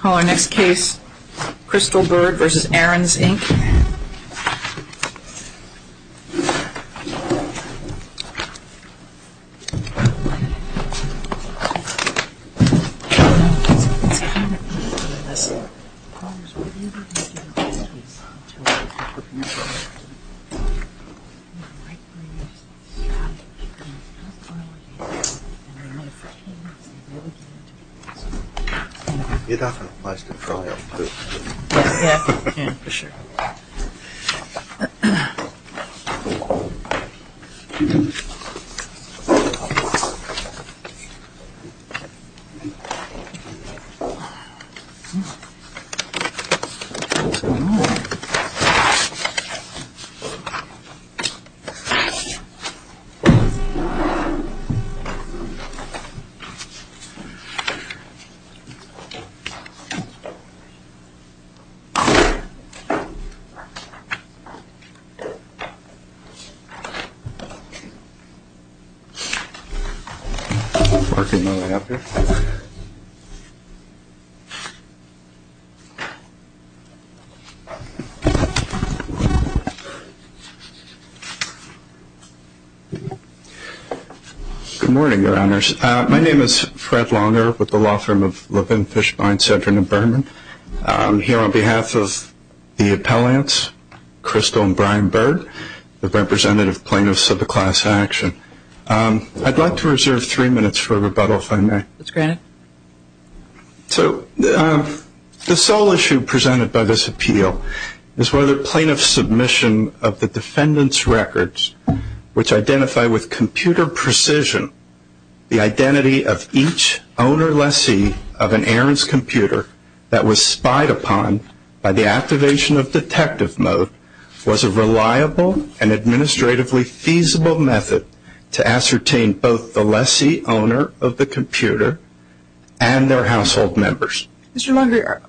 Call our next case, CrystalByrdVersusAaron'sInc. You don't have much to cry over, do you? Yeah, yeah, for sure. Good morning, Your Honors. My name is Fred Launer, with the law firm of Levin, Fishbine, Sedron, and Berman. I'm here on behalf of the appellants, Crystal and Brian Byrd, the representative plaintiffs of the class action. I'd like to reserve three minutes for rebuttal, if I may. That's granted. So the sole issue presented by this appeal is whether plaintiff's submission of the defendant's records, which identify with computer precision the identity of each owner lessee of an Aaron's computer that was spied upon by the activation of detective mode, was a reliable and administratively feasible method to ascertain both the lessee owner of the computer and their household members. Mr. Launery,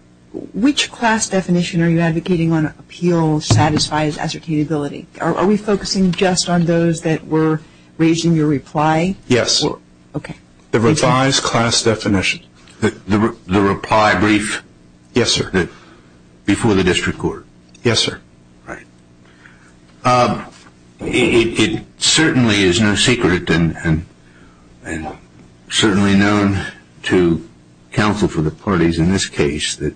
which class definition are you advocating on appeal satisfies ascertainability? Are we focusing just on those that were raising your reply? Yes. Okay. The revised class definition. The reply brief? Yes, sir. Before the district court? Yes, sir. Right. It certainly is no secret and certainly known to counsel for the parties in this case that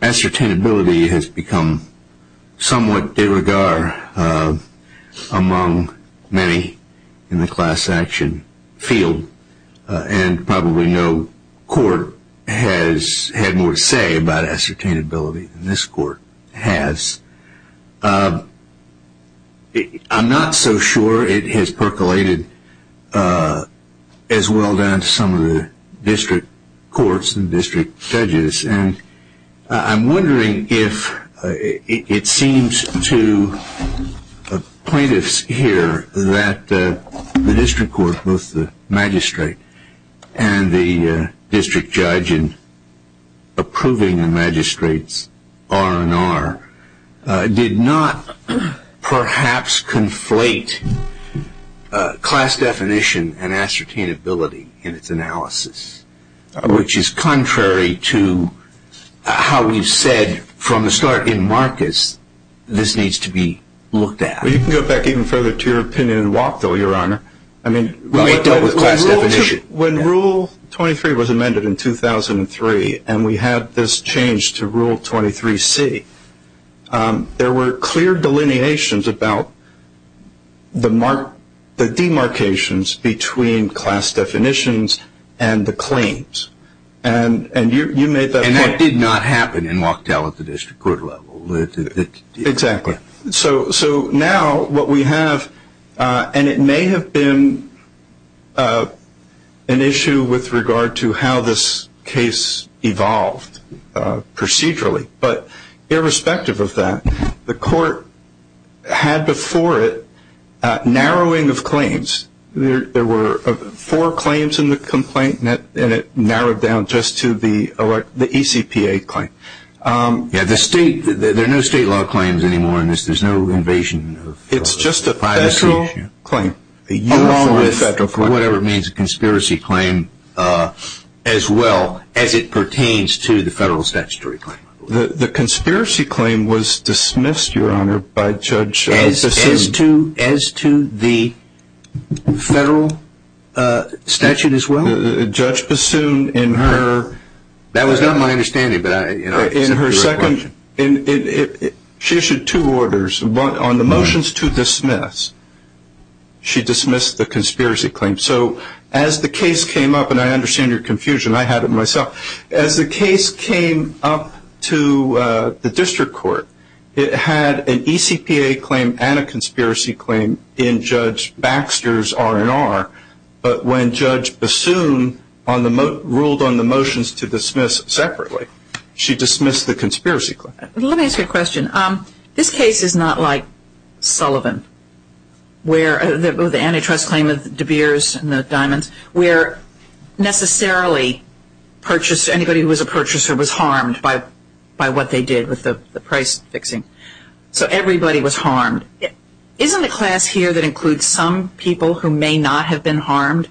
ascertainability has become somewhat de rigueur among many in the class action field and probably no court has had more to say about ascertainability than this court has. I'm not so sure it has percolated as well down to some of the district courts and district judges. And I'm wondering if it seems to plaintiffs here that the district court, both the magistrate and the district judge in approving the magistrate's R&R, did not perhaps conflate class definition and ascertainability in its analysis, which is contrary to how you said from the start in Marcus this needs to be looked at. Well, you can go back even further to your opinion in Wachtel, Your Honor. I mean, when Rule 23 was amended in 2003 and we had this change to Rule 23C, there were clear delineations about the demarcations between class definitions and the claims. And you made that point. And that did not happen in Wachtel at the district court level. Exactly. So now what we have, and it may have been an issue with regard to how this case evolved procedurally, but irrespective of that, the court had before it a narrowing of claims. There were four claims in the complaint, and it narrowed down just to the ECPA claim. Yeah, there are no state law claims anymore in this. There's no invasion of privacy. It's just a federal claim. Along with whatever means a conspiracy claim as well as it pertains to the federal statutory claim. The conspiracy claim was dismissed, Your Honor, by Judge Bassoon. As to the federal statute as well? Judge Bassoon, in her – that was not my understanding, but I – She issued two orders. On the motions to dismiss, she dismissed the conspiracy claim. So as the case came up, and I understand your confusion, I had it myself. As the case came up to the district court, it had an ECPA claim and a conspiracy claim in Judge Baxter's R&R. But when Judge Bassoon ruled on the motions to dismiss separately, she dismissed the conspiracy claim. Let me ask you a question. This case is not like Sullivan, where the antitrust claim of De Beers and the Diamonds, where necessarily purchase – anybody who was a purchaser was harmed by what they did with the price fixing. So everybody was harmed. Isn't the class here that includes some people who may not have been harmed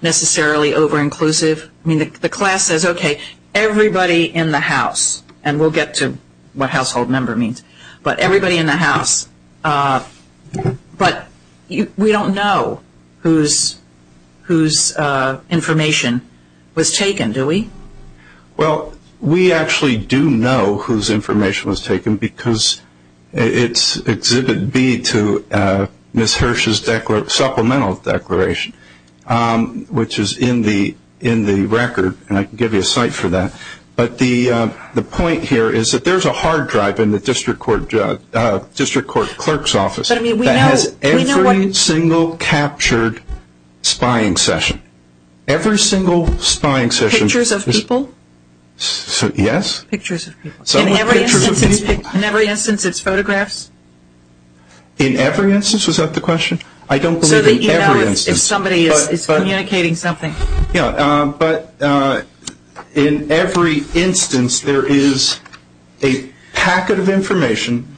necessarily over-inclusive? I mean, the class says, okay, everybody in the house, and we'll get to what household member means. But everybody in the house. But we don't know whose information was taken, do we? Well, we actually do know whose information was taken because it's Exhibit B to Ms. Hirsch's supplemental declaration, which is in the record, and I can give you a cite for that. But the point here is that there's a hard drive in the district court clerk's office that has every single captured spying session. Every single spying session. Pictures of people? Yes. Pictures of people. In every instance, it's photographs? In every instance? Was that the question? I don't believe in every instance. So you know if somebody is communicating something? Yeah, but in every instance, there is a packet of information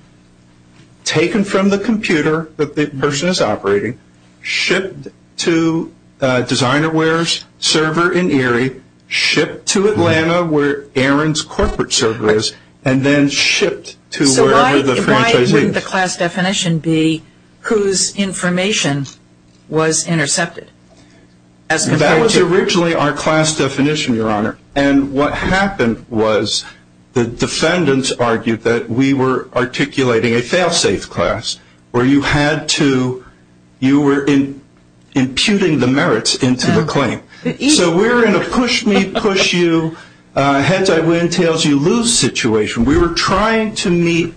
taken from the computer that the person is operating, shipped to DesignerWare's server in Erie, shipped to Atlanta, where Aaron's corporate server is, and then shipped to wherever the franchisee is. Couldn't the class definition be whose information was intercepted? That was originally our class definition, Your Honor. And what happened was the defendants argued that we were articulating a fail-safe class, where you were imputing the merits into the claim. So we're in a push-me-push-you, heads-I-win-tails-you-lose situation. We were trying to meet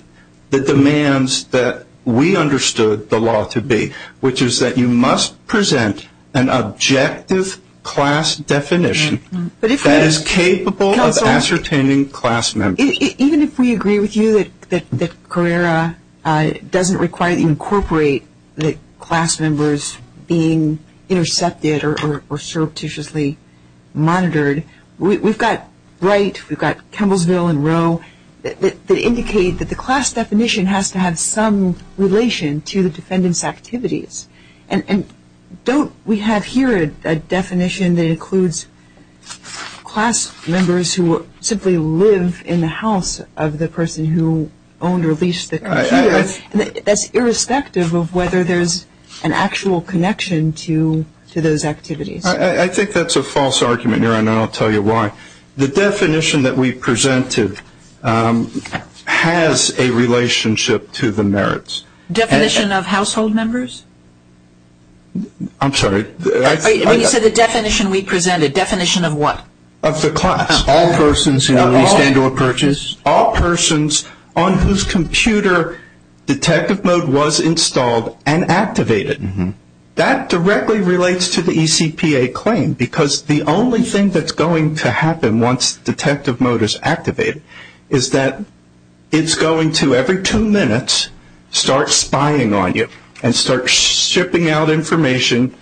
the demands that we understood the law to be, which is that you must present an objective class definition that is capable of ascertaining class members. Even if we agree with you that Carrera doesn't incorporate the class members being intercepted or surreptitiously monitored, we've got Wright, we've got Kemblesville and Rowe that indicate that the class definition has to have some relation to the defendant's activities. And don't we have here a definition that includes class members who simply live in the house of the person who owned or leased the computer? That's irrespective of whether there's an actual connection to those activities. I think that's a false argument, Your Honor, and I'll tell you why. The definition that we presented has a relationship to the merits. Definition of household members? I'm sorry. When you said the definition we presented, definition of what? Of the class. All persons who own or leased or purchased. All persons on whose computer detective mode was installed and activated. That directly relates to the ECPA claim because the only thing that's going to happen once detective mode is activated is that it's going to, every two minutes, start spying on you and start shipping out information,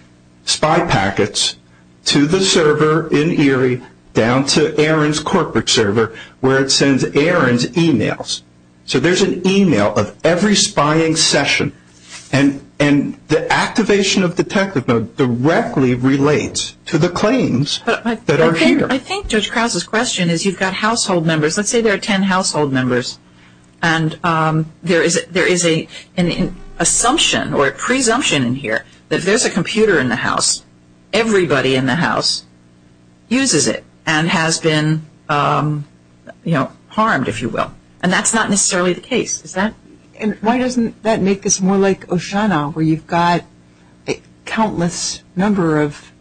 spy packets to the server in Erie down to Aaron's corporate server where it sends Aaron's emails. So there's an email of every spying session. And the activation of detective mode directly relates to the claims that are here. I think Judge Krause's question is you've got household members. Let's say there are ten household members and there is an assumption or a presumption in here that if there's a computer in the house, everybody in the house uses it and has been harmed, if you will. And that's not necessarily the case. Why doesn't that make this more like Oceana where you've got a countless number of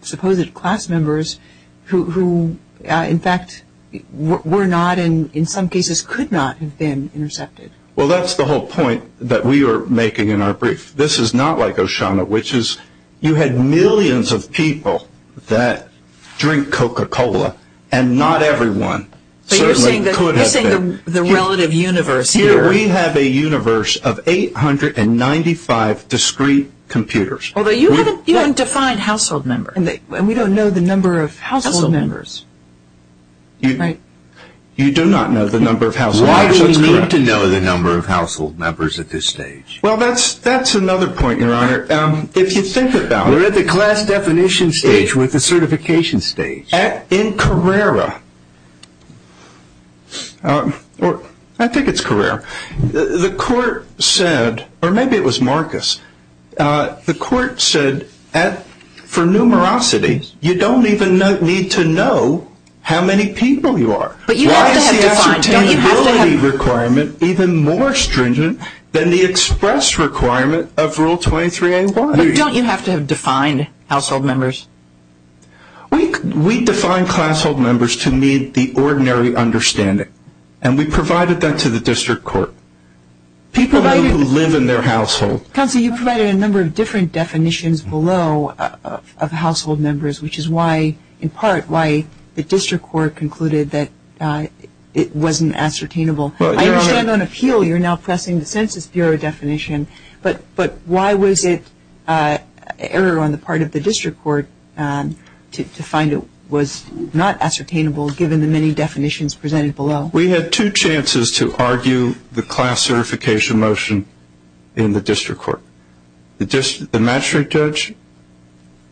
supposed class members who in fact were not and in some cases could not have been intercepted? Well, that's the whole point that we are making in our brief. This is not like Oceana which is you had millions of people that drink Coca-Cola and not everyone. You're saying the relative universe here. We have a universe of 895 discrete computers. Although you haven't defined household members. And we don't know the number of household members. You do not know the number of household members. Why do we need to know the number of household members at this stage? Well, that's another point, Your Honor. If you think about it. We're at the class definition stage with the certification stage. In Carrera, or I think it's Carrera, the court said, or maybe it was Marcus, the court said for numerosity you don't even need to know how many people you are. Why is the ascertainability requirement even more stringent than the express requirement of Rule 23-A-1? Don't you have to have defined household members? We define classhold members to meet the ordinary understanding. And we provided that to the district court. People who live in their household. Counsel, you provided a number of different definitions below of household members, which is why, in part, why the district court concluded that it wasn't ascertainable. I understand on appeal you're now pressing the Census Bureau definition, but why was it error on the part of the district court to find it was not ascertainable, given the many definitions presented below? We had two chances to argue the class certification motion in the district court. The magistrate judge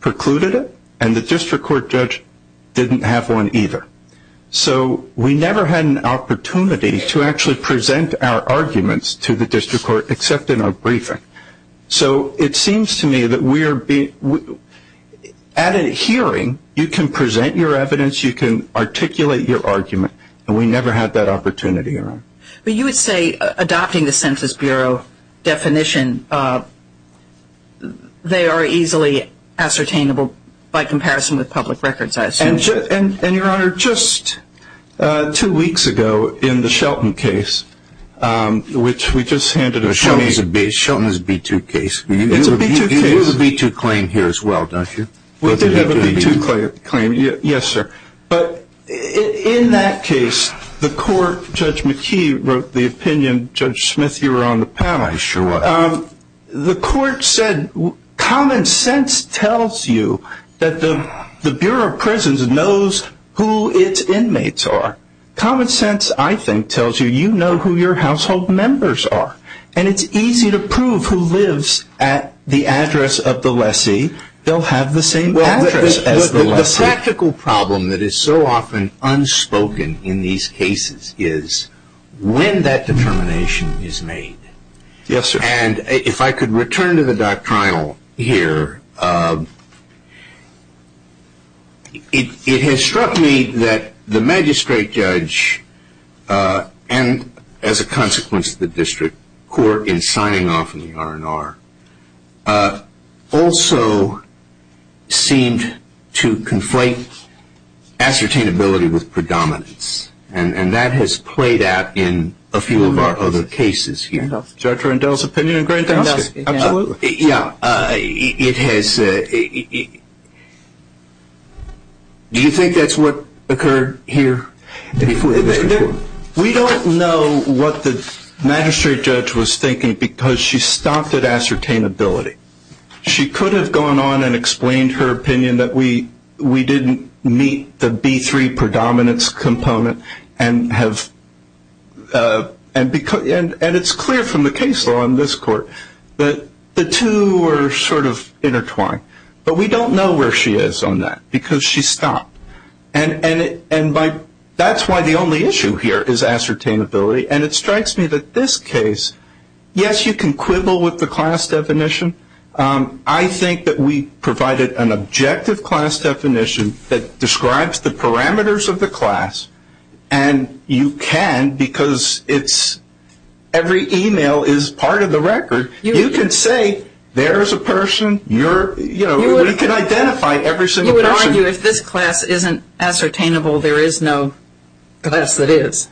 precluded it, and the district court judge didn't have one either. So we never had an opportunity to actually present our arguments to the district court except in our briefing. So it seems to me that at a hearing you can present your evidence, you can articulate your argument, and we never had that opportunity. But you would say adopting the Census Bureau definition, they are easily ascertainable by comparison with public records, I assume. And, Your Honor, just two weeks ago in the Shelton case, which we just handed over. Shelton is a B-2 case. It's a B-2 case. You have a B-2 claim here as well, don't you? We do have a B-2 claim, yes, sir. But in that case, the court, Judge McKee wrote the opinion, Judge Smith, you were on the panel. I sure was. The court said common sense tells you that the Bureau of Prisons knows who its inmates are. Common sense, I think, tells you you know who your household members are. And it's easy to prove who lives at the address of the lessee. They'll have the same address as the lessee. The practical problem that is so often unspoken in these cases is when that determination is made. Yes, sir. And if I could return to the doctrinal here, it has struck me that the magistrate judge and, as a consequence of the district court in signing off on the R&R, also seemed to conflate ascertainability with predominance. And that has played out in a few of our other cases here. Judge Rendell's opinion in Grand Towson? Absolutely. Yeah, it has. Do you think that's what occurred here before the district court? We don't know what the magistrate judge was thinking because she stopped at ascertainability. She could have gone on and explained her opinion that we didn't meet the B3 predominance component and it's clear from the case law in this court that the two were sort of intertwined. But we don't know where she is on that because she stopped. And that's why the only issue here is ascertainability. And it strikes me that this case, yes, you can quibble with the class definition. I think that we provided an objective class definition that describes the parameters of the class, and you can because every e-mail is part of the record. You can say there is a person. We can identify every single person. You would argue if this class isn't ascertainable, there is no class that is.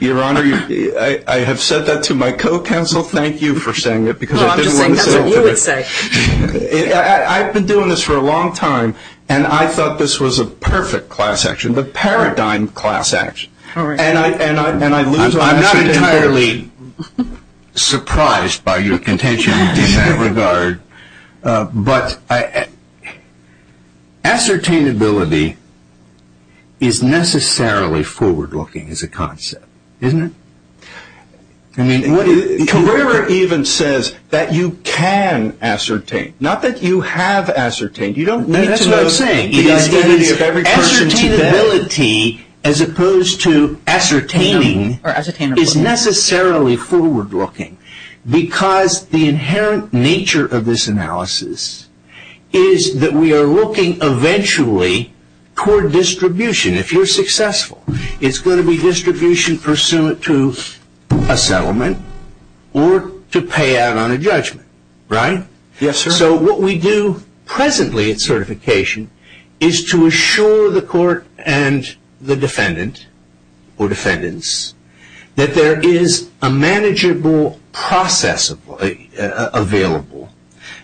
Your Honor, I have said that to my co-counsel. Thank you for saying it because I didn't want to say it. I'm just saying that's what you would say. I've been doing this for a long time, and I thought this was a perfect class action, the paradigm class action. And I lose my ascertainability. I'm not entirely surprised by your contention in that regard. But ascertainability is necessarily forward-looking as a concept, isn't it? Carrera even says that you can ascertain, not that you have ascertained. That's what I'm saying. Ascertainability as opposed to ascertaining is necessarily forward-looking because the inherent nature of this analysis is that we are looking eventually toward distribution. If you're successful, it's going to be distribution pursuant to a settlement or to pay out on a judgment, right? Yes, sir. So what we do presently at certification is to assure the court and the defendant or defendants that there is a manageable process available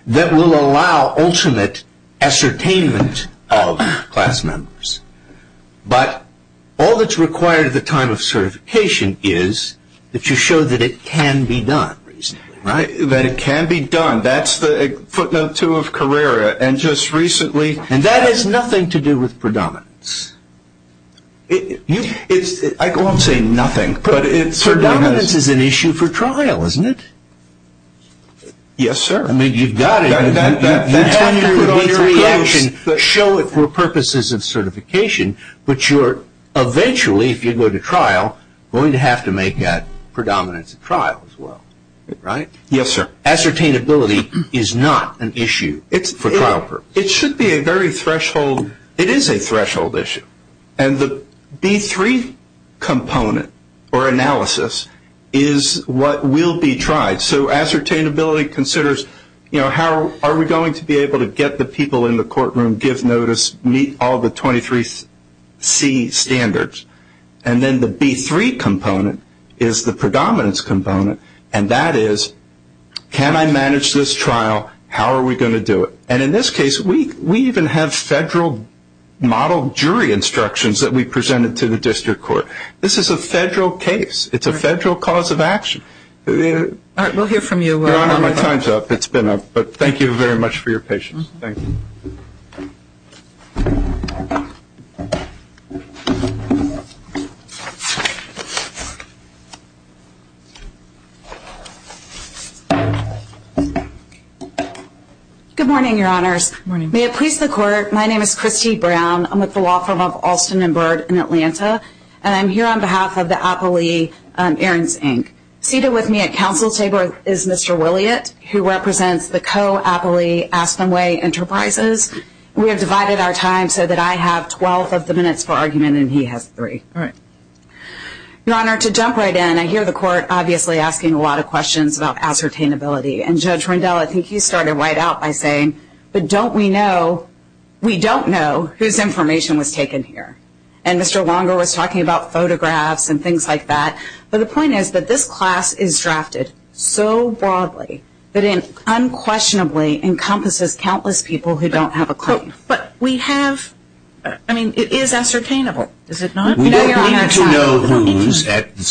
that will allow ultimate ascertainment of class members. But all that's required at the time of certification is that you show that it can be done reasonably, right? That's footnote two of Carrera, and just recently. And that has nothing to do with predominance. I won't say nothing, but it certainly has. Predominance is an issue for trial, isn't it? Yes, sir. I mean, you've got it. That would be the reaction, show it for purposes of certification, but you're eventually, if you go to trial, going to have to make that predominance at trial as well, right? Yes, sir. Ascertainability is not an issue for trial purposes. It should be a very threshold. It is a threshold issue. And the B3 component or analysis is what will be tried. So ascertainability considers, you know, how are we going to be able to get the people in the courtroom, give notice, meet all the 23C standards. And then the B3 component is the predominance component, and that is, can I manage this trial? How are we going to do it? And in this case, we even have federal model jury instructions that we presented to the district court. This is a federal case. It's a federal cause of action. All right, we'll hear from you. Your Honor, my time's up. It's been up. But thank you very much for your patience. Thank you. Thank you. Good morning, Your Honors. Good morning. May it please the Court, my name is Christy Brown. I'm with the law firm of Alston & Byrd in Atlanta, and I'm here on behalf of the appellee, Ahrens, Inc. Seated with me at counsel's table is Mr. Williott, who represents the co-appellee Aspenway Enterprises. We have divided our time so that I have 12 of the minutes for argument, and he has three. All right. Your Honor, to jump right in, I hear the Court obviously asking a lot of questions about ascertainability, and Judge Rendell, I think you started right out by saying, but don't we know, we don't know whose information was taken here. And Mr. Longer was talking about photographs and things like that. But the point is that this class is drafted so broadly that it unquestionably encompasses countless people who don't have a claim. But we have, I mean, it is ascertainable, is it not? We don't need to know who's at the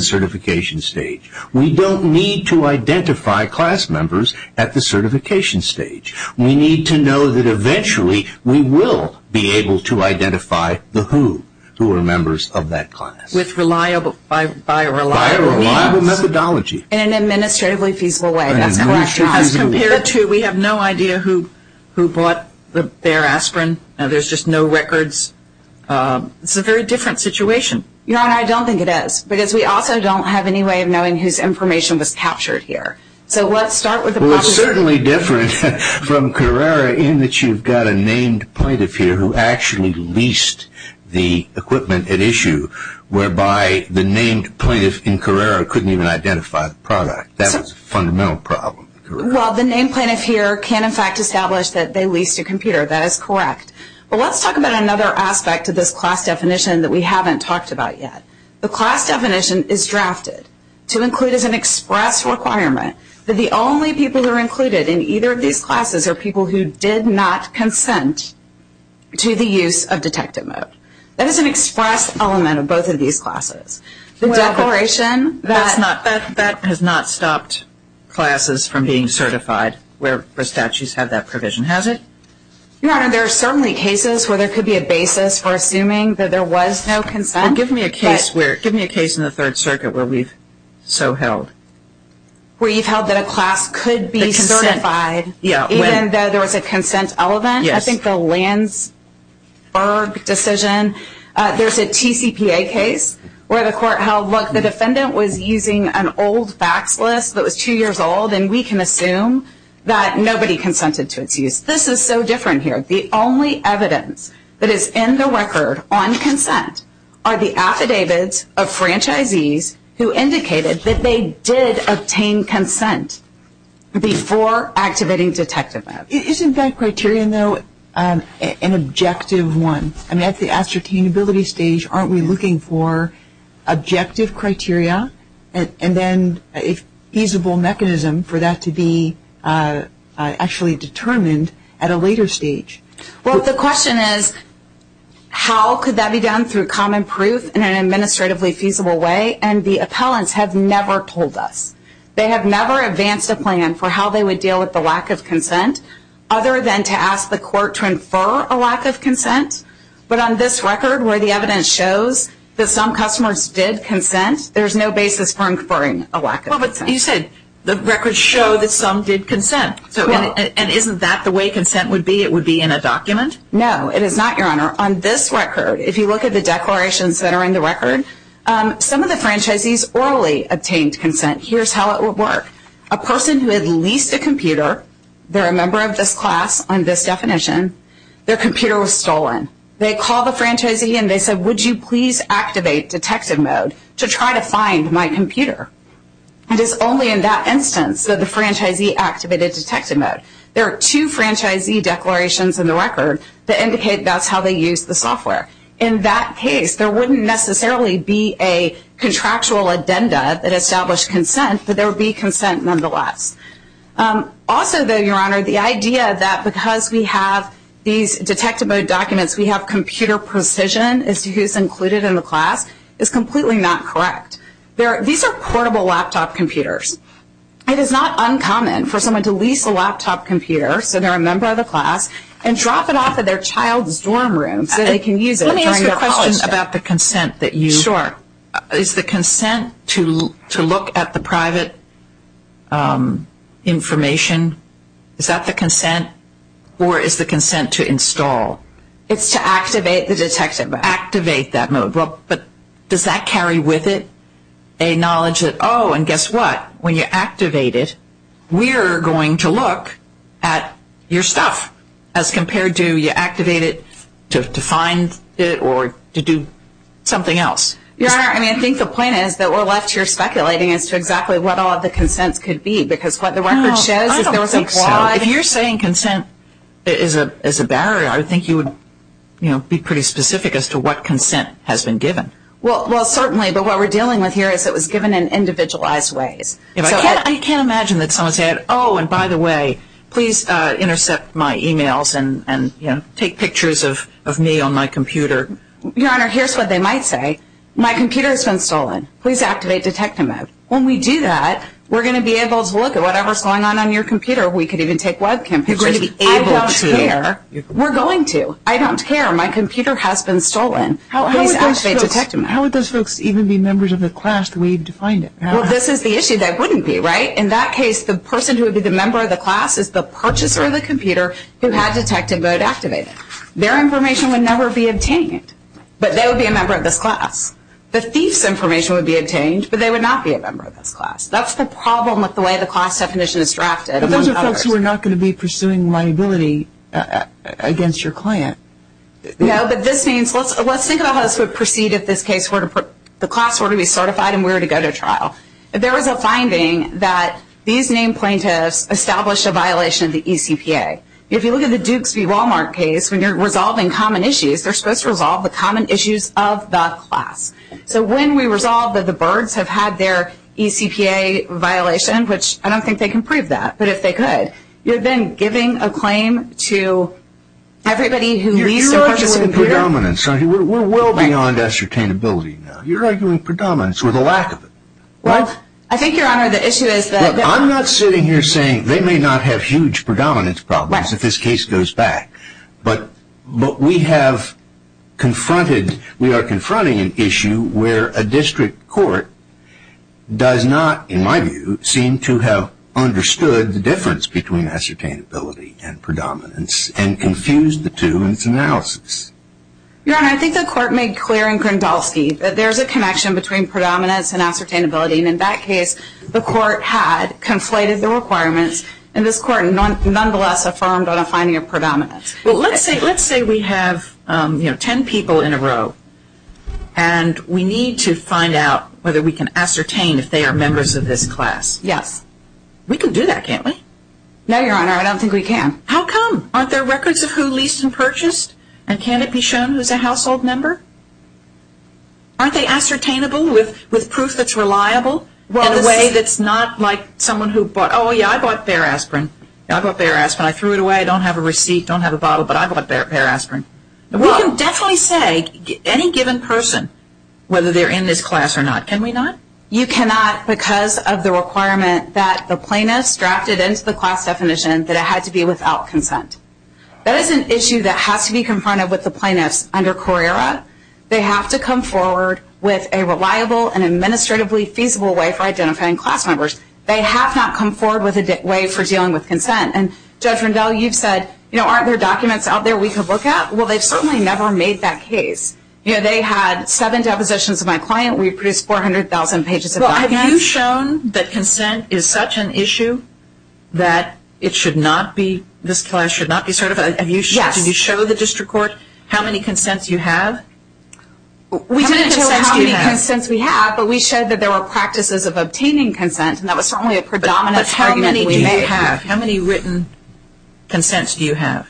certification stage. We don't need to identify class members at the certification stage. We need to know that eventually we will be able to identify the who, who are members of that class. By a reliable methodology. In an administratively feasible way. That's correct. As compared to, we have no idea who bought their aspirin, and there's just no records. It's a very different situation. Your Honor, I don't think it is, because we also don't have any way of knowing whose information was captured here. So let's start with the process. Well, it's certainly different from Carrera in that you've got a named plaintiff here who actually leased the equipment at issue, whereby the named plaintiff in Carrera couldn't even identify the product. That was a fundamental problem. Well, the named plaintiff here can, in fact, establish that they leased a computer. That is correct. But let's talk about another aspect of this class definition that we haven't talked about yet. The class definition is drafted to include as an express requirement that the only people who are included in either of these classes are people who did not consent to the use of detective mode. That is an express element of both of these classes. The declaration that... That has not stopped classes from being certified where the statutes have that provision, has it? Your Honor, there are certainly cases where there could be a basis for assuming that there was no consent. Give me a case in the Third Circuit where we've so held. Where you've held that a class could be certified even though there was a consent element? Yes. I think the Landsberg decision. There's a TCPA case where the court held, look, the defendant was using an old fax list that was two years old, and we can assume that nobody consented to its use. This is so different here. The only evidence that is in the record on consent are the affidavits of franchisees who indicated that they did obtain consent before activating detective mode. Isn't that criterion, though, an objective one? I mean, at the ascertainability stage, aren't we looking for objective criteria and then a feasible mechanism for that to be actually determined at a later stage? Well, the question is how could that be done through common proof in an administratively feasible way, and the appellants have never told us. They have never advanced a plan for how they would deal with the lack of consent other than to ask the court to infer a lack of consent. But on this record where the evidence shows that some customers did consent, there's no basis for inferring a lack of consent. Well, but you said the records show that some did consent, and isn't that the way consent would be, it would be in a document? No, it is not, Your Honor. On this record, if you look at the declarations that are in the record, some of the franchisees orally obtained consent. Here's how it would work. A person who had leased a computer, they're a member of this class on this definition, their computer was stolen. They called the franchisee and they said, would you please activate detective mode to try to find my computer? It is only in that instance that the franchisee activated detective mode. There are two franchisee declarations in the record that indicate that's how they used the software. In that case, there wouldn't necessarily be a contractual agenda that established consent, but there would be consent nonetheless. Also, Your Honor, the idea that because we have these detective mode documents, we have computer precision as to who's included in the class is completely not correct. These are portable laptop computers. It is not uncommon for someone to lease a laptop computer, so they're a member of the class, and drop it off at their child's dorm room so they can use it during their college day. Let me ask you a question about the consent that you. Sure. Is the consent to look at the private information, is that the consent? Or is the consent to install? It's to activate the detective mode. Activate that mode. But does that carry with it a knowledge that, oh, and guess what? When you activate it, we're going to look at your stuff, as compared to you activate it to find it or to do something else. Your Honor, I mean, I think the point is that we're left here speculating as to exactly what all of the consents could be, because what the record shows is there was a broad. I don't think so. If you're saying consent is a barrier, I would think you would, you know, be pretty specific as to what consent has been given. Well, certainly, but what we're dealing with here is it was given in individualized ways. I can't imagine that someone said, oh, and by the way, please intercept my e-mails and take pictures of me on my computer. Your Honor, here's what they might say. My computer has been stolen. Please activate detective mode. When we do that, we're going to be able to look at whatever's going on on your computer. We could even take webcam pictures. You're going to be able to. I don't care. We're going to. I don't care. My computer has been stolen. Please activate detective mode. How would those folks even be members of the class the way you defined it? Well, this is the issue that wouldn't be, right? In that case, the person who would be the member of the class is the purchaser of the computer who had detective mode activated. Their information would never be obtained, but they would be a member of this class. The thief's information would be obtained, but they would not be a member of this class. That's the problem with the way the class definition is drafted. But those are folks who are not going to be pursuing liability against your client. No, but this means let's think about how this would proceed if the class were to be certified and we were to go to trial. If there was a finding that these named plaintiffs established a violation of the ECPA, if you look at the Dukes v. Walmart case, when you're resolving common issues, they're supposed to resolve the common issues of the class. So when we resolve that the Byrds have had their ECPA violation, which I don't think they can prove that, but if they could, you're then giving a claim to everybody who leaves the purchasing period. You're arguing predominance. We're well beyond ascertainability now. You're arguing predominance with a lack of it. Well, I think, Your Honor, the issue is that... I'm not sitting here saying they may not have huge predominance problems if this case goes back, but we have confronted, we are confronting an issue where a district court does not, in my view, seem to have understood the difference between ascertainability and predominance and confused the two in its analysis. Your Honor, I think the court made clear in Grindolfsky that there's a connection between predominance and ascertainability, and in that case the court had conflated the requirements, and this court nonetheless affirmed on a finding of predominance. Well, let's say we have, you know, ten people in a row, and we need to find out whether we can ascertain if they are members of this class. Yes. We can do that, can't we? No, Your Honor, I don't think we can. How come? Aren't there records of who leased and purchased, and can it be shown who's a household member? Aren't they ascertainable with proof that's reliable in a way that's not like someone who bought... Oh, yeah, I bought bear aspirin. I bought bear aspirin. I threw it away. I don't have a receipt, don't have a bottle, but I bought bear aspirin. We can definitely say any given person, whether they're in this class or not. Can we not? You cannot because of the requirement that the plaintiff's drafted into the class definition that it had to be without consent. That is an issue that has to be confronted with the plaintiff's under Courera. They have to come forward with a reliable and administratively feasible way for identifying class members. They have not come forward with a way for dealing with consent, and Judge Rendell, you've said, you know, aren't there documents out there we could look at? Well, they've certainly never made that case. You know, they had seven depositions of my client. We produced 400,000 pages of documents. Well, have you shown that consent is such an issue that it should not be, this class should not be certified? Yes. Did you show the district court how many consents you have? How many consents do you have? We didn't show how many consents we have, but we showed that there were practices of obtaining consent, and that was certainly a predominant argument that we made. How many written consents do you have?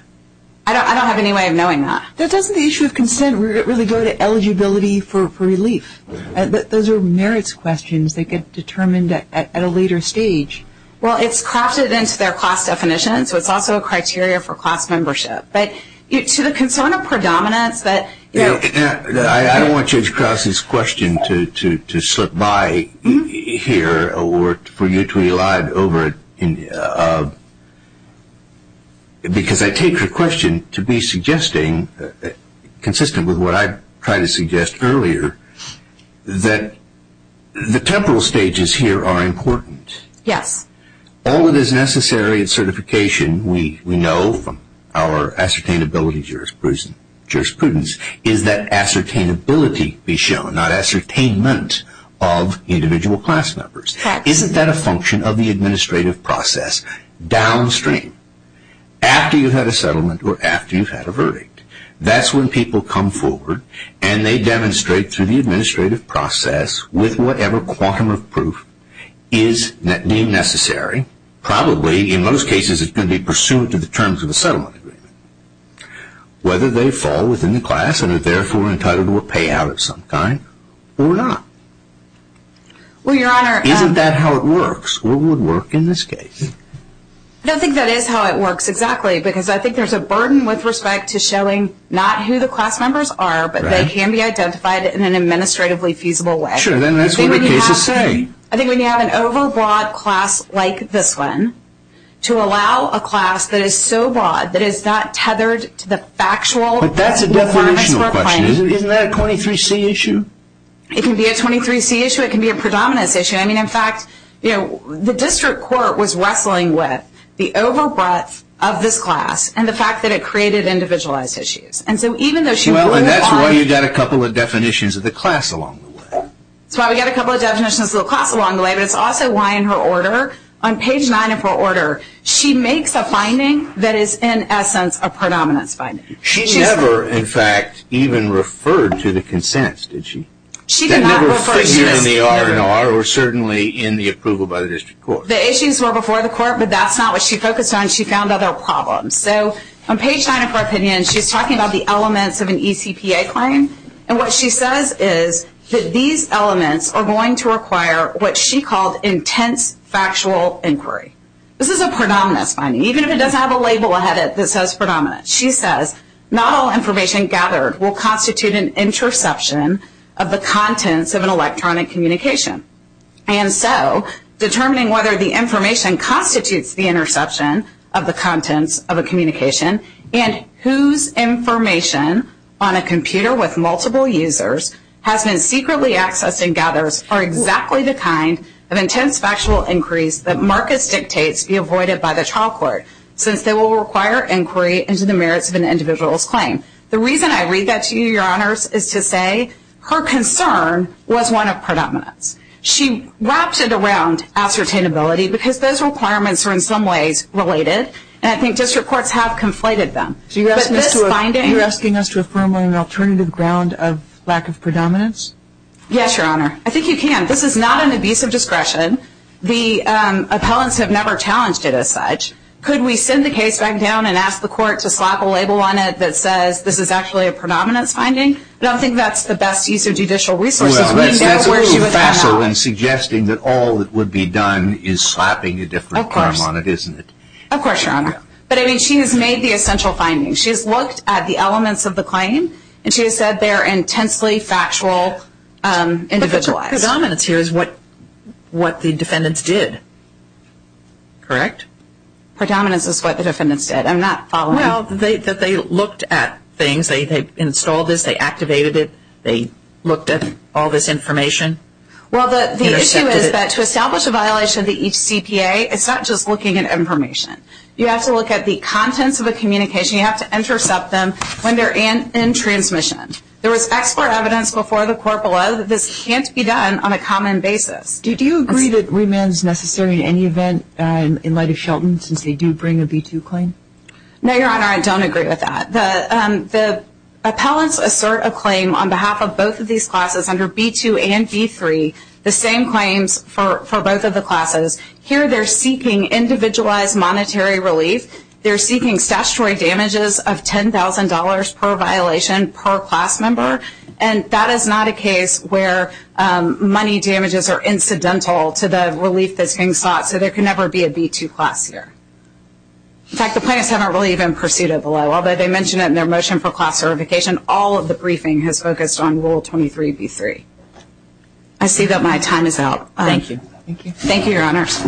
I don't have any way of knowing that. Doesn't the issue of consent really go to eligibility for relief? Those are merits questions that get determined at a later stage. Well, it's crafted into their class definition, so it's also a criteria for class membership. But to the concern of predominance that you know. I don't want Judge Krause's question to slip by here or for you to elide over it, because I take your question to be suggesting, consistent with what I tried to suggest earlier, that the temporal stages here are important. Yes. All that is necessary in certification, we know from our ascertainability jurisprudence, is that ascertainability be shown, not ascertainment of individual class members. Isn't that a function of the administrative process downstream? After you've had a settlement or after you've had a verdict, that's when people come forward and they demonstrate through the administrative process with whatever quantum of proof is deemed necessary. Probably, in most cases, it's going to be pursuant to the terms of the settlement agreement. Whether they fall within the class and are therefore entitled to a payout of some kind or not. Isn't that how it works? What would work in this case? I don't think that is how it works exactly, because I think there's a burden with respect to showing not who the class members are, but they can be identified in an administratively feasible way. Sure, then that's what the cases say. I think when you have an overbroad class like this one, to allow a class that is so broad that it's not tethered to the factual requirements for a claim. But that's a definitional question. Isn't that a 23C issue? It can be a 23C issue. It can be a predominance issue. In fact, the district court was wrestling with the over breadth of this class and the fact that it created individualized issues. That's why you've got a couple of definitions of the class along the way. That's why we've got a couple of definitions of the class along the way, but it's also why in her order, on page 9 of her order, she makes a finding that is in essence a predominance finding. She never, in fact, even referred to the consents, did she? That never fit here in the R&R or certainly in the approval by the district court. The issues were before the court, but that's not what she focused on. She found other problems. So on page 9 of her opinion, she's talking about the elements of an eCPA claim, and what she says is that these elements are going to require what she called intense factual inquiry. This is a predominance finding, even if it doesn't have a label ahead of it that says predominance. She says, not all information gathered will constitute an interception of the contents of an electronic communication. And so determining whether the information constitutes the interception of the contents of a communication and whose information on a computer with multiple users has been secretly accessed and gathers are exactly the kind of intense factual inquiries that Marcus dictates be avoided by the trial court, since they will require inquiry into the merits of an individual's claim. The reason I read that to you, Your Honors, is to say her concern was one of predominance. She wrapped it around ascertainability because those requirements are in some ways related, and I think district courts have conflated them. You're asking us to affirm on an alternative ground of lack of predominance? Yes, Your Honor. I think you can. This is not an abusive discretion. The appellants have never challenged it as such. Could we send the case back down and ask the court to slap a label on it that says this is actually a predominance finding? I don't think that's the best use of judicial resources. Well, that's a little facile in suggesting that all that would be done is slapping a different crime on it, isn't it? Of course, Your Honor. But, I mean, she has made the essential findings. She has looked at the elements of the claim, and she has said they are intensely factual individualized. Predominance here is what the defendants did, correct? Predominance is what the defendants did. I'm not following. Well, they looked at things. They installed this. They activated it. They looked at all this information. Well, the issue is that to establish a violation of the HCPA, it's not just looking at information. You have to look at the contents of the communication. You have to intercept them when they're in transmission. There was expert evidence before the court below that this can't be done on a common basis. Do you agree that remand is necessary in any event in light of Shelton since they do bring a B-2 claim? No, Your Honor, I don't agree with that. The appellants assert a claim on behalf of both of these classes under B-2 and B-3, the same claims for both of the classes. Here they're seeking individualized monetary relief. They're seeking statutory damages of $10,000 per violation per class member, and that is not a case where money damages are incidental to the relief that's being sought, so there can never be a B-2 class here. In fact, the plaintiffs haven't really even pursued it below. Although they mentioned it in their motion for class certification, all of the briefing has focused on Rule 23B-3. I see that my time is out. Thank you. Thank you, Your Honors.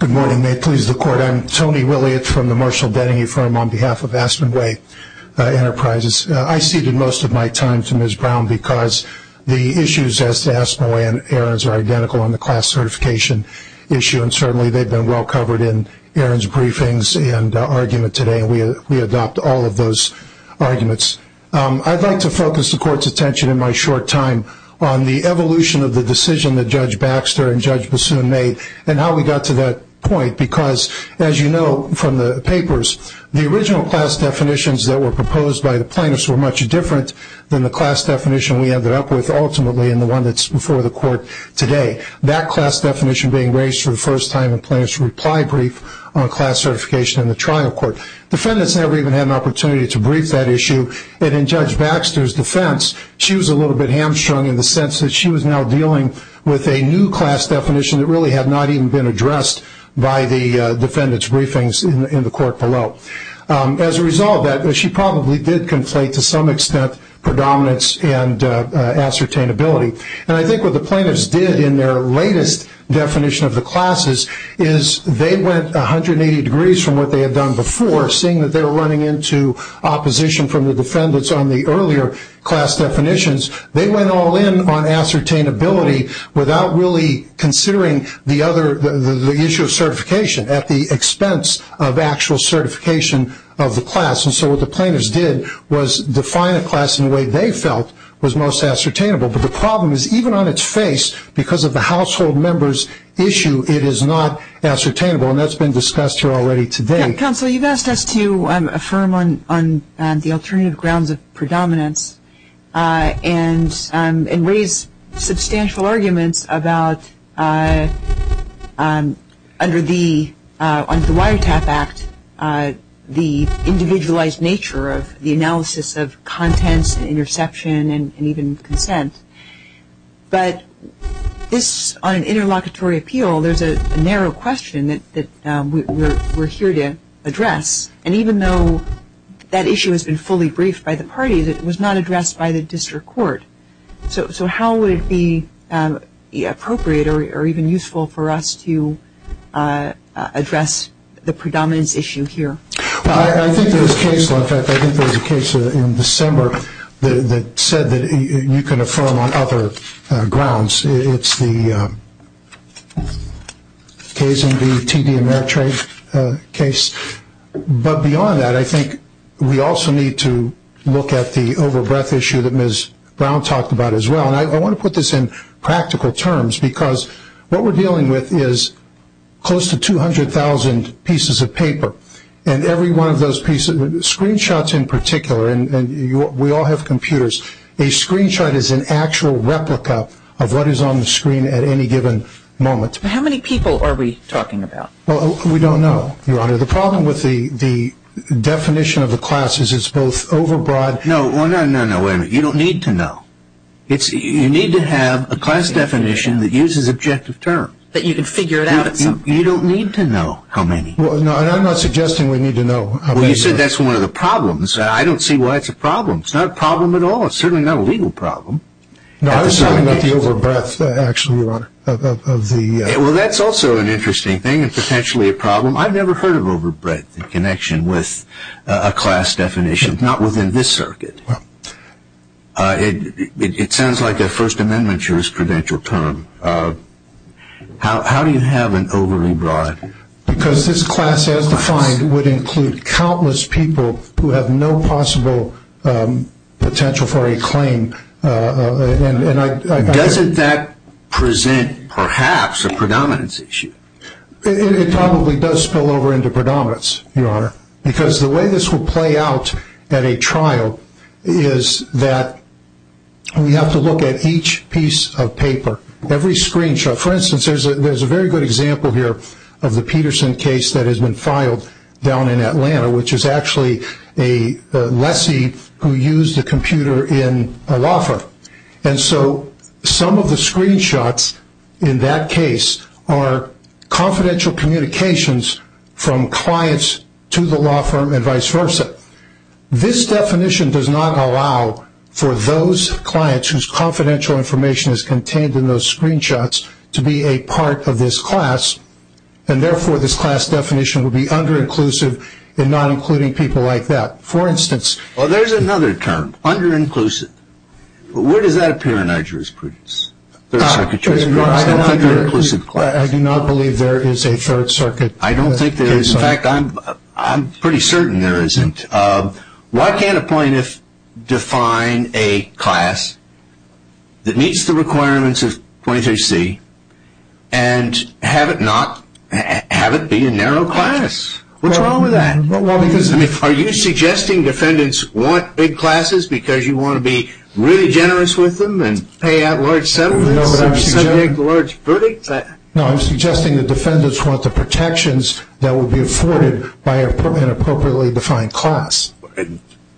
Good morning. May it please the Court. I'm Tony Williott from the Marshall Denningy Firm on behalf of Aspen Way Enterprises. I ceded most of my time to Ms. Brown because the issues as to Aspen Way and errands are identical on the class certification issue, and certainly they've been well covered in errands, briefings, and argument today. We adopt all of those arguments. I'd like to focus the Court's attention in my short time on the evolution of the decision that Judge Baxter and Judge Bassoon made and how we got to that point because, as you know from the papers, the original class definitions that were proposed by the plaintiffs were much different than the class definition we ended up with ultimately and the one that's before the Court today, that class definition being raised for the first time in plaintiffs' reply brief on class certification in the trial court. Defendants never even had an opportunity to brief that issue, and in Judge Baxter's defense, she was a little bit hamstrung in the sense that she was now dealing with a new class definition that really had not even been addressed by the defendants' briefings in the Court below. As a result of that, she probably did conflate to some extent predominance and ascertainability, and I think what the plaintiffs did in their latest definition of the classes is they went 180 degrees from what they had done before, seeing that they were running into opposition from the defendants on the earlier class definitions. They went all in on ascertainability without really considering the issue of certification at the expense of actual certification of the class, and so what the plaintiffs did was define a class in a way they felt was most ascertainable, but the problem is even on its face, because of the household member's issue, it is not ascertainable, and that's been discussed here already today. Counsel, you've asked us to affirm on the alternative grounds of predominance and raise substantial arguments about, under the Wiretap Act, the individualized nature of the analysis of contents, interception, and even consent, but on an interlocutory appeal, there's a narrow question that we're here to address, and even though that issue has been fully briefed by the parties, it was not addressed by the District Court, so how would it be appropriate or even useful for us to address the predominance issue here? I think there was a case in December that said that you can affirm on other grounds. It's the case in the TD Ameritrade case, but beyond that, I think we also need to look at the overbreath issue that Ms. Brown talked about as well, and I want to put this in practical terms, because what we're dealing with is close to 200,000 pieces of paper, and every one of those pieces, screenshots in particular, and we all have computers, a screenshot is an actual replica of what is on the screen at any given moment. How many people are we talking about? Well, we don't know, Your Honor. The problem with the definition of the class is it's both overbroad. No, no, no, wait a minute. You don't need to know. You need to have a class definition that uses objective terms. That you can figure it out at some point. You don't need to know how many. No, and I'm not suggesting we need to know how many. Well, you said that's one of the problems. I don't see why it's a problem. It's not a problem at all. It's certainly not a legal problem. No, I was talking about the overbreath, actually, Your Honor. Well, that's also an interesting thing and potentially a problem. I've never heard of overbreath in connection with a class definition, not within this circuit. It sounds like a First Amendment jurisprudential term. How do you have an overly broad definition? Because this class, as defined, would include countless people who have no possible potential for a claim. Doesn't that present, perhaps, a predominance issue? It probably does spill over into predominance, Your Honor. Because the way this will play out at a trial is that we have to look at each piece of paper, every screenshot. For instance, there's a very good example here of the Peterson case that has been filed down in Atlanta, which is actually a lessee who used a computer in a law firm. And so some of the screenshots in that case are confidential communications from clients to the law firm and vice versa. This definition does not allow for those clients whose confidential information is contained in those screenshots to be a part of this class. And, therefore, this class definition would be under-inclusive in not including people like that. For instance, Well, there's another term, under-inclusive. Where does that appear in our jurisprudence? I don't think there is. In fact, I'm pretty certain there isn't. Why can't a plaintiff define a class that meets the requirements of 23C and have it be a narrow class? What's wrong with that? Well, because Are you suggesting defendants want big classes because you want to be really generous with them and pay out large sums? No, but I'm suggesting the defendants want the protections that would be afforded by an appropriately defined class.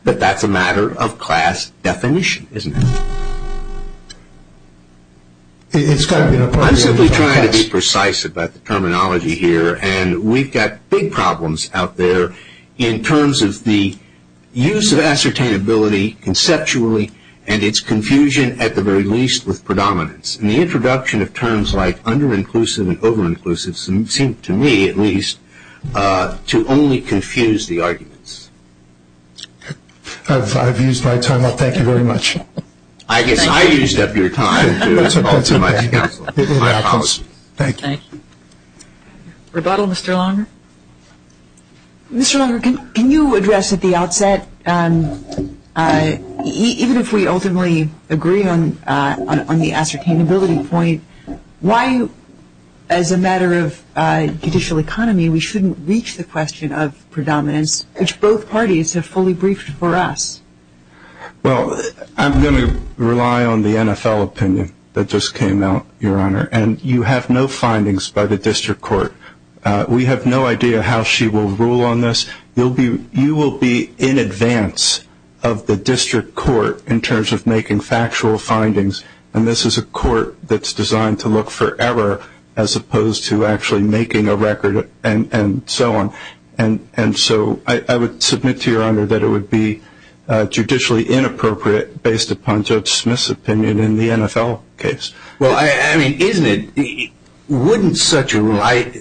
But that's a matter of class definition, isn't it? I'm simply trying to be precise about the terminology here, and we've got big problems out there in terms of the use of ascertainability conceptually and its confusion, at the very least, with predominance. And the introduction of terms like under-inclusive and over-inclusive seem to me, at least, to only confuse the arguments. I've used my time up. Thank you very much. I guess I used up your time, too. Thank you. Rebuttal, Mr. Langer? Mr. Langer, can you address at the outset, even if we ultimately agree on the ascertainability point, why, as a matter of judicial economy, we shouldn't reach the question of predominance, which both parties have fully briefed for us? Well, I'm going to rely on the NFL opinion that just came out, Your Honor, and you have no findings by the district court. We have no idea how she will rule on this. You will be in advance of the district court in terms of making factual findings, and this is a court that's designed to look forever as opposed to actually making a record and so on. And so I would submit to Your Honor that it would be judicially inappropriate, based upon Judge Smith's opinion in the NFL case. Well, I mean, isn't it? Wouldn't such a rule, I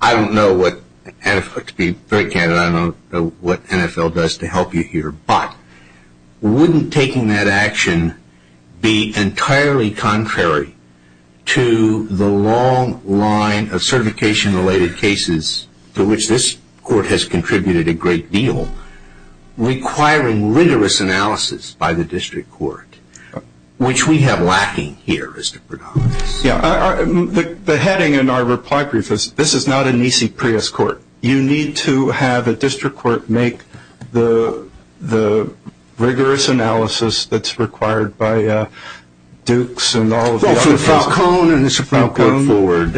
don't know what, to be very candid, I don't know what NFL does to help you here, but wouldn't taking that action be entirely contrary to the long line of certification-related cases to which this court has contributed a great deal, requiring rigorous analysis by the district court, which we have lacking here as to predominance? Yeah. The heading in our reply brief is this is not an EC Prius court. You need to have a district court make the rigorous analysis that's required by Dukes and all of the others. Well, from Falcone and the Supreme Court forward,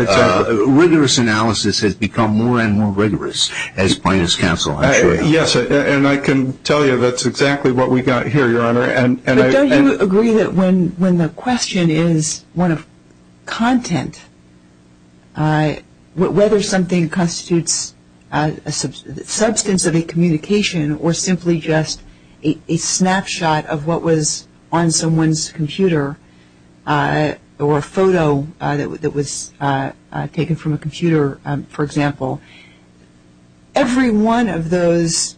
rigorous analysis has become more and more rigorous. As plaintiff's counsel, I'm sure. Yes, and I can tell you that's exactly what we've got here, Your Honor. But don't you agree that when the question is one of content, whether something constitutes a substance of a communication or simply just a snapshot of what was on someone's computer or a photo that was taken from a computer, for example, every one of those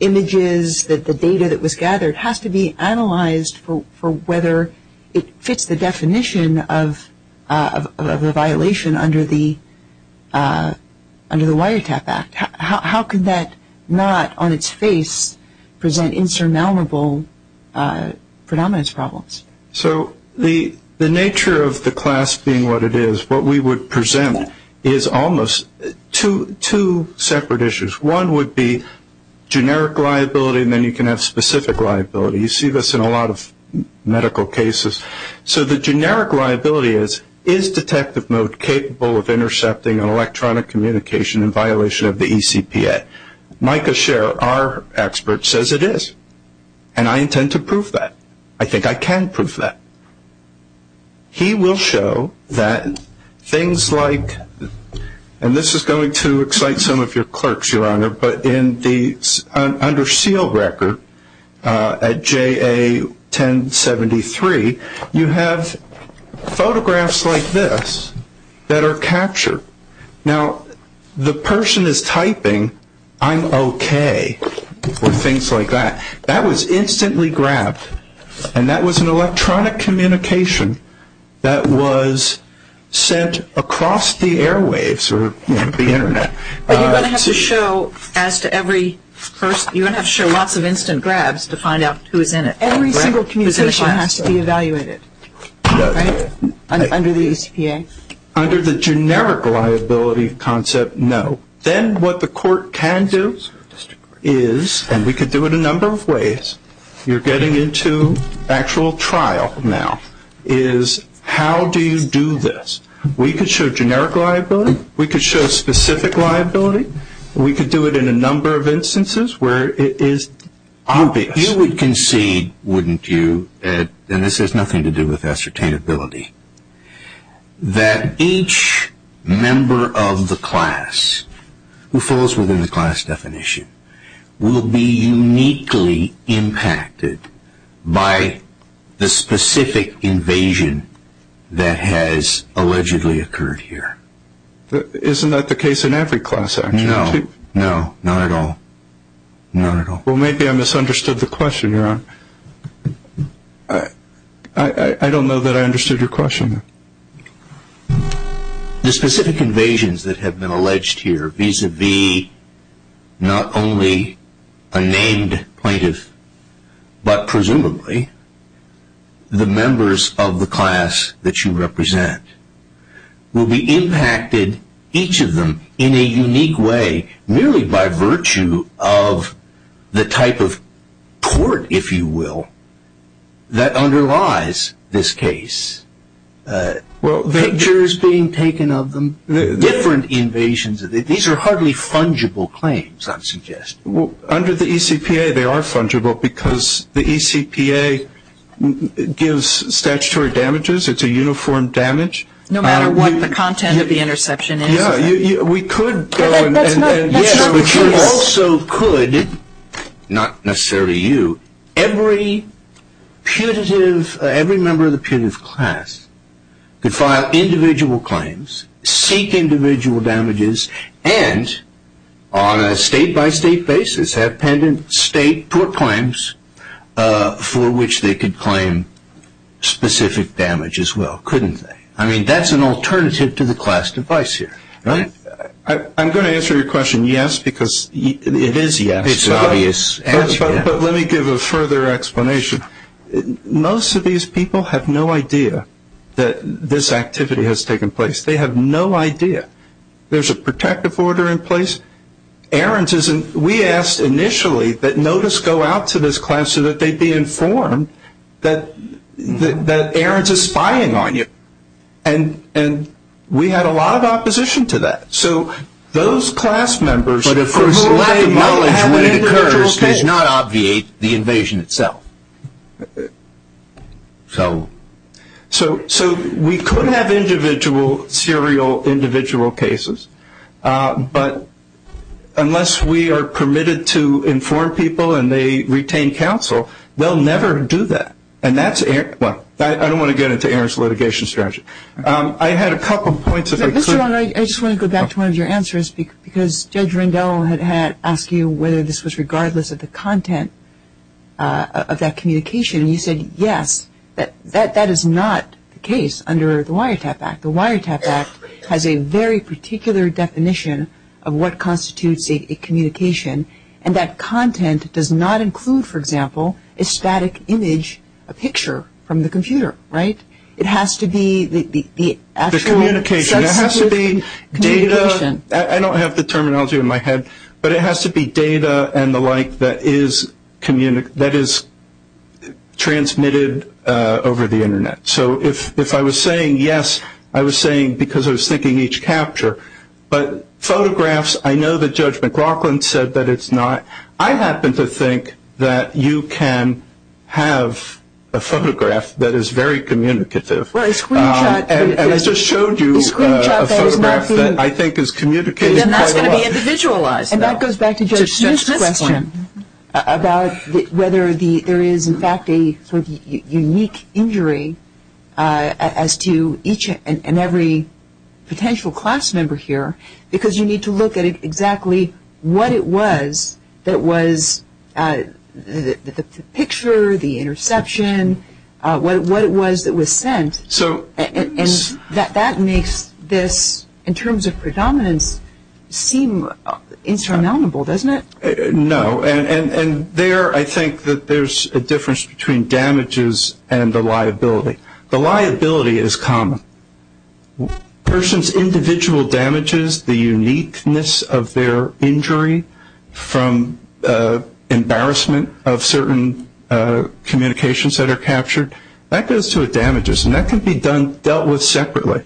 images, the data that was gathered, has to be analyzed for whether it fits the definition of a violation under the Wiretap Act. How can that not on its face present insurmountable predominance problems? So the nature of the class being what it is, what we would present is almost two separate issues. One would be generic liability, and then you can have specific liability. You see this in a lot of medical cases. So the generic liability is, is detective mode capable of intercepting electronic communication in violation of the ECPA? Micah Sher, our expert, says it is, and I intend to prove that. I think I can prove that. He will show that things like, and this is going to excite some of your clerks, Your Honor, but in the under seal record at JA 1073, you have photographs like this that are captured. Now, the person is typing, I'm okay, or things like that. That was instantly grabbed, and that was an electronic communication that was sent across the airwaves or the Internet. But you're going to have to show, as to every person, you're going to have to show lots of instant grabs to find out who is in it. Every single communication has to be evaluated, right, under the ECPA? Under the generic liability concept, no. Then what the court can do is, and we could do it a number of ways, you're getting into actual trial now, is how do you do this? We could show generic liability. We could show specific liability. We could do it in a number of instances where it is obvious. You would concede, wouldn't you, and this has nothing to do with ascertainability, that each member of the class who falls within the class definition will be uniquely impacted by the specific invasion that has allegedly occurred here. Isn't that the case in every class, actually? No, no, not at all, not at all. Well, maybe I misunderstood the question, Your Honor. I don't know that I understood your question. The specific invasions that have been alleged here, vis-a-vis not only a named plaintiff, but presumably the members of the class that you represent, will be impacted, each of them, in a unique way, merely by virtue of the type of court, if you will, that underlies this case. Pictures being taken of them, different invasions. These are hardly fungible claims, I'm suggesting. Well, under the ECPA, they are fungible because the ECPA gives statutory damages. It's a uniform damage. No matter what the content of the interception is. Yeah, we could go and... That's not the case. Yeah, but you also could, not necessarily you, every putative, every member of the putative class, could file individual claims, seek individual damages, and on a state-by-state basis, have pendent state court claims for which they could claim specific damage as well, couldn't they? I mean, that's an alternative to the class device here, right? I'm going to answer your question yes, because... It is yes. It's obvious. But let me give a further explanation. Most of these people have no idea that this activity has taken place. They have no idea. There's a protective order in place. We asked initially that notice go out to this class so that they'd be informed that Ahrens is spying on you. And we had a lot of opposition to that. So those class members... It's not obvious, the invasion itself. So we could have individual serial individual cases, but unless we are permitted to inform people and they retain counsel, they'll never do that. And that's... Well, I don't want to get into Ahrens' litigation strategy. I had a couple of points... Mr. Rohn, I just want to go back to one of your answers, because Judge Rendell had asked you whether this was regardless of the content of that communication. You said yes. That is not the case under the WIRETAP Act. The WIRETAP Act has a very particular definition of what constitutes a communication, and that content does not include, for example, a static image, a picture from the computer, right? It has to be the actual... The communication. It has to be data. I don't have the terminology in my head, but it has to be data and the like that is transmitted over the Internet. So if I was saying yes, I was saying because I was thinking each capture. But photographs, I know that Judge McLaughlin said that it's not. I happen to think that you can have a photograph that is very communicative. And I just showed you a photograph that I think is communicative. Then that's going to be individualized. And that goes back to Judge Smith's question about whether there is, in fact, a unique injury as to each and every potential class member here, because you need to look at exactly what it was that was the picture, the interception, what it was that was sent. And that makes this, in terms of predominance, seem insurmountable, doesn't it? No. And there I think that there's a difference between damages and the liability. The liability is common. A person's individual damages, the uniqueness of their injury, from embarrassment of certain communications that are captured, that goes to a damages. And that can be dealt with separately.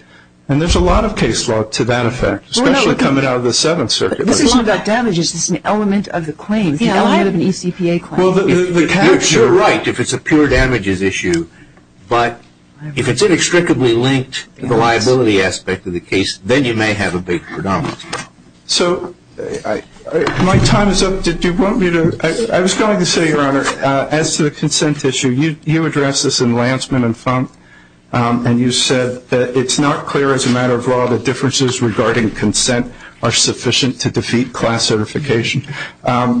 And there's a lot of case law to that effect, especially coming out of the Seventh Circuit. This isn't about damages. It's an element of the claim, the element of an eCPA claim. You're sure right if it's a pure damages issue. But if it's inextricably linked to the liability aspect of the case, then you may have a big predominance. So my time is up. Did you want me to? I was going to say, Your Honor, as to the consent issue, you addressed this in Lansman and Funk, and you said that it's not clear as a matter of law that differences regarding consent are sufficient to defeat class certification.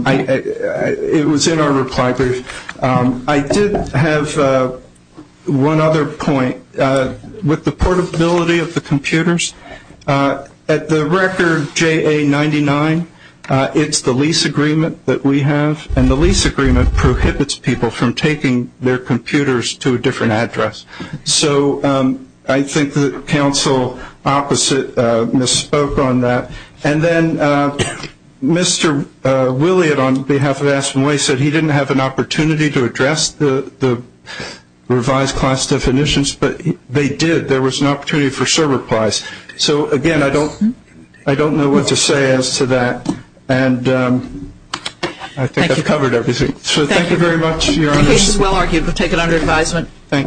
It was in our reply brief. I did have one other point. With the portability of the computers, at the record JA99, it's the lease agreement that we have, and the lease agreement prohibits people from taking their computers to a different address. So I think that counsel opposite misspoke on that. And then Mr. Williott, on behalf of Aspen Way, said he didn't have an opportunity to address the revised class definitions, but they did. There was an opportunity for server applies. So, again, I don't know what to say as to that, and I think I've covered everything. So thank you very much, Your Honor. The case is well argued. We'll take it under advisement. Thank you.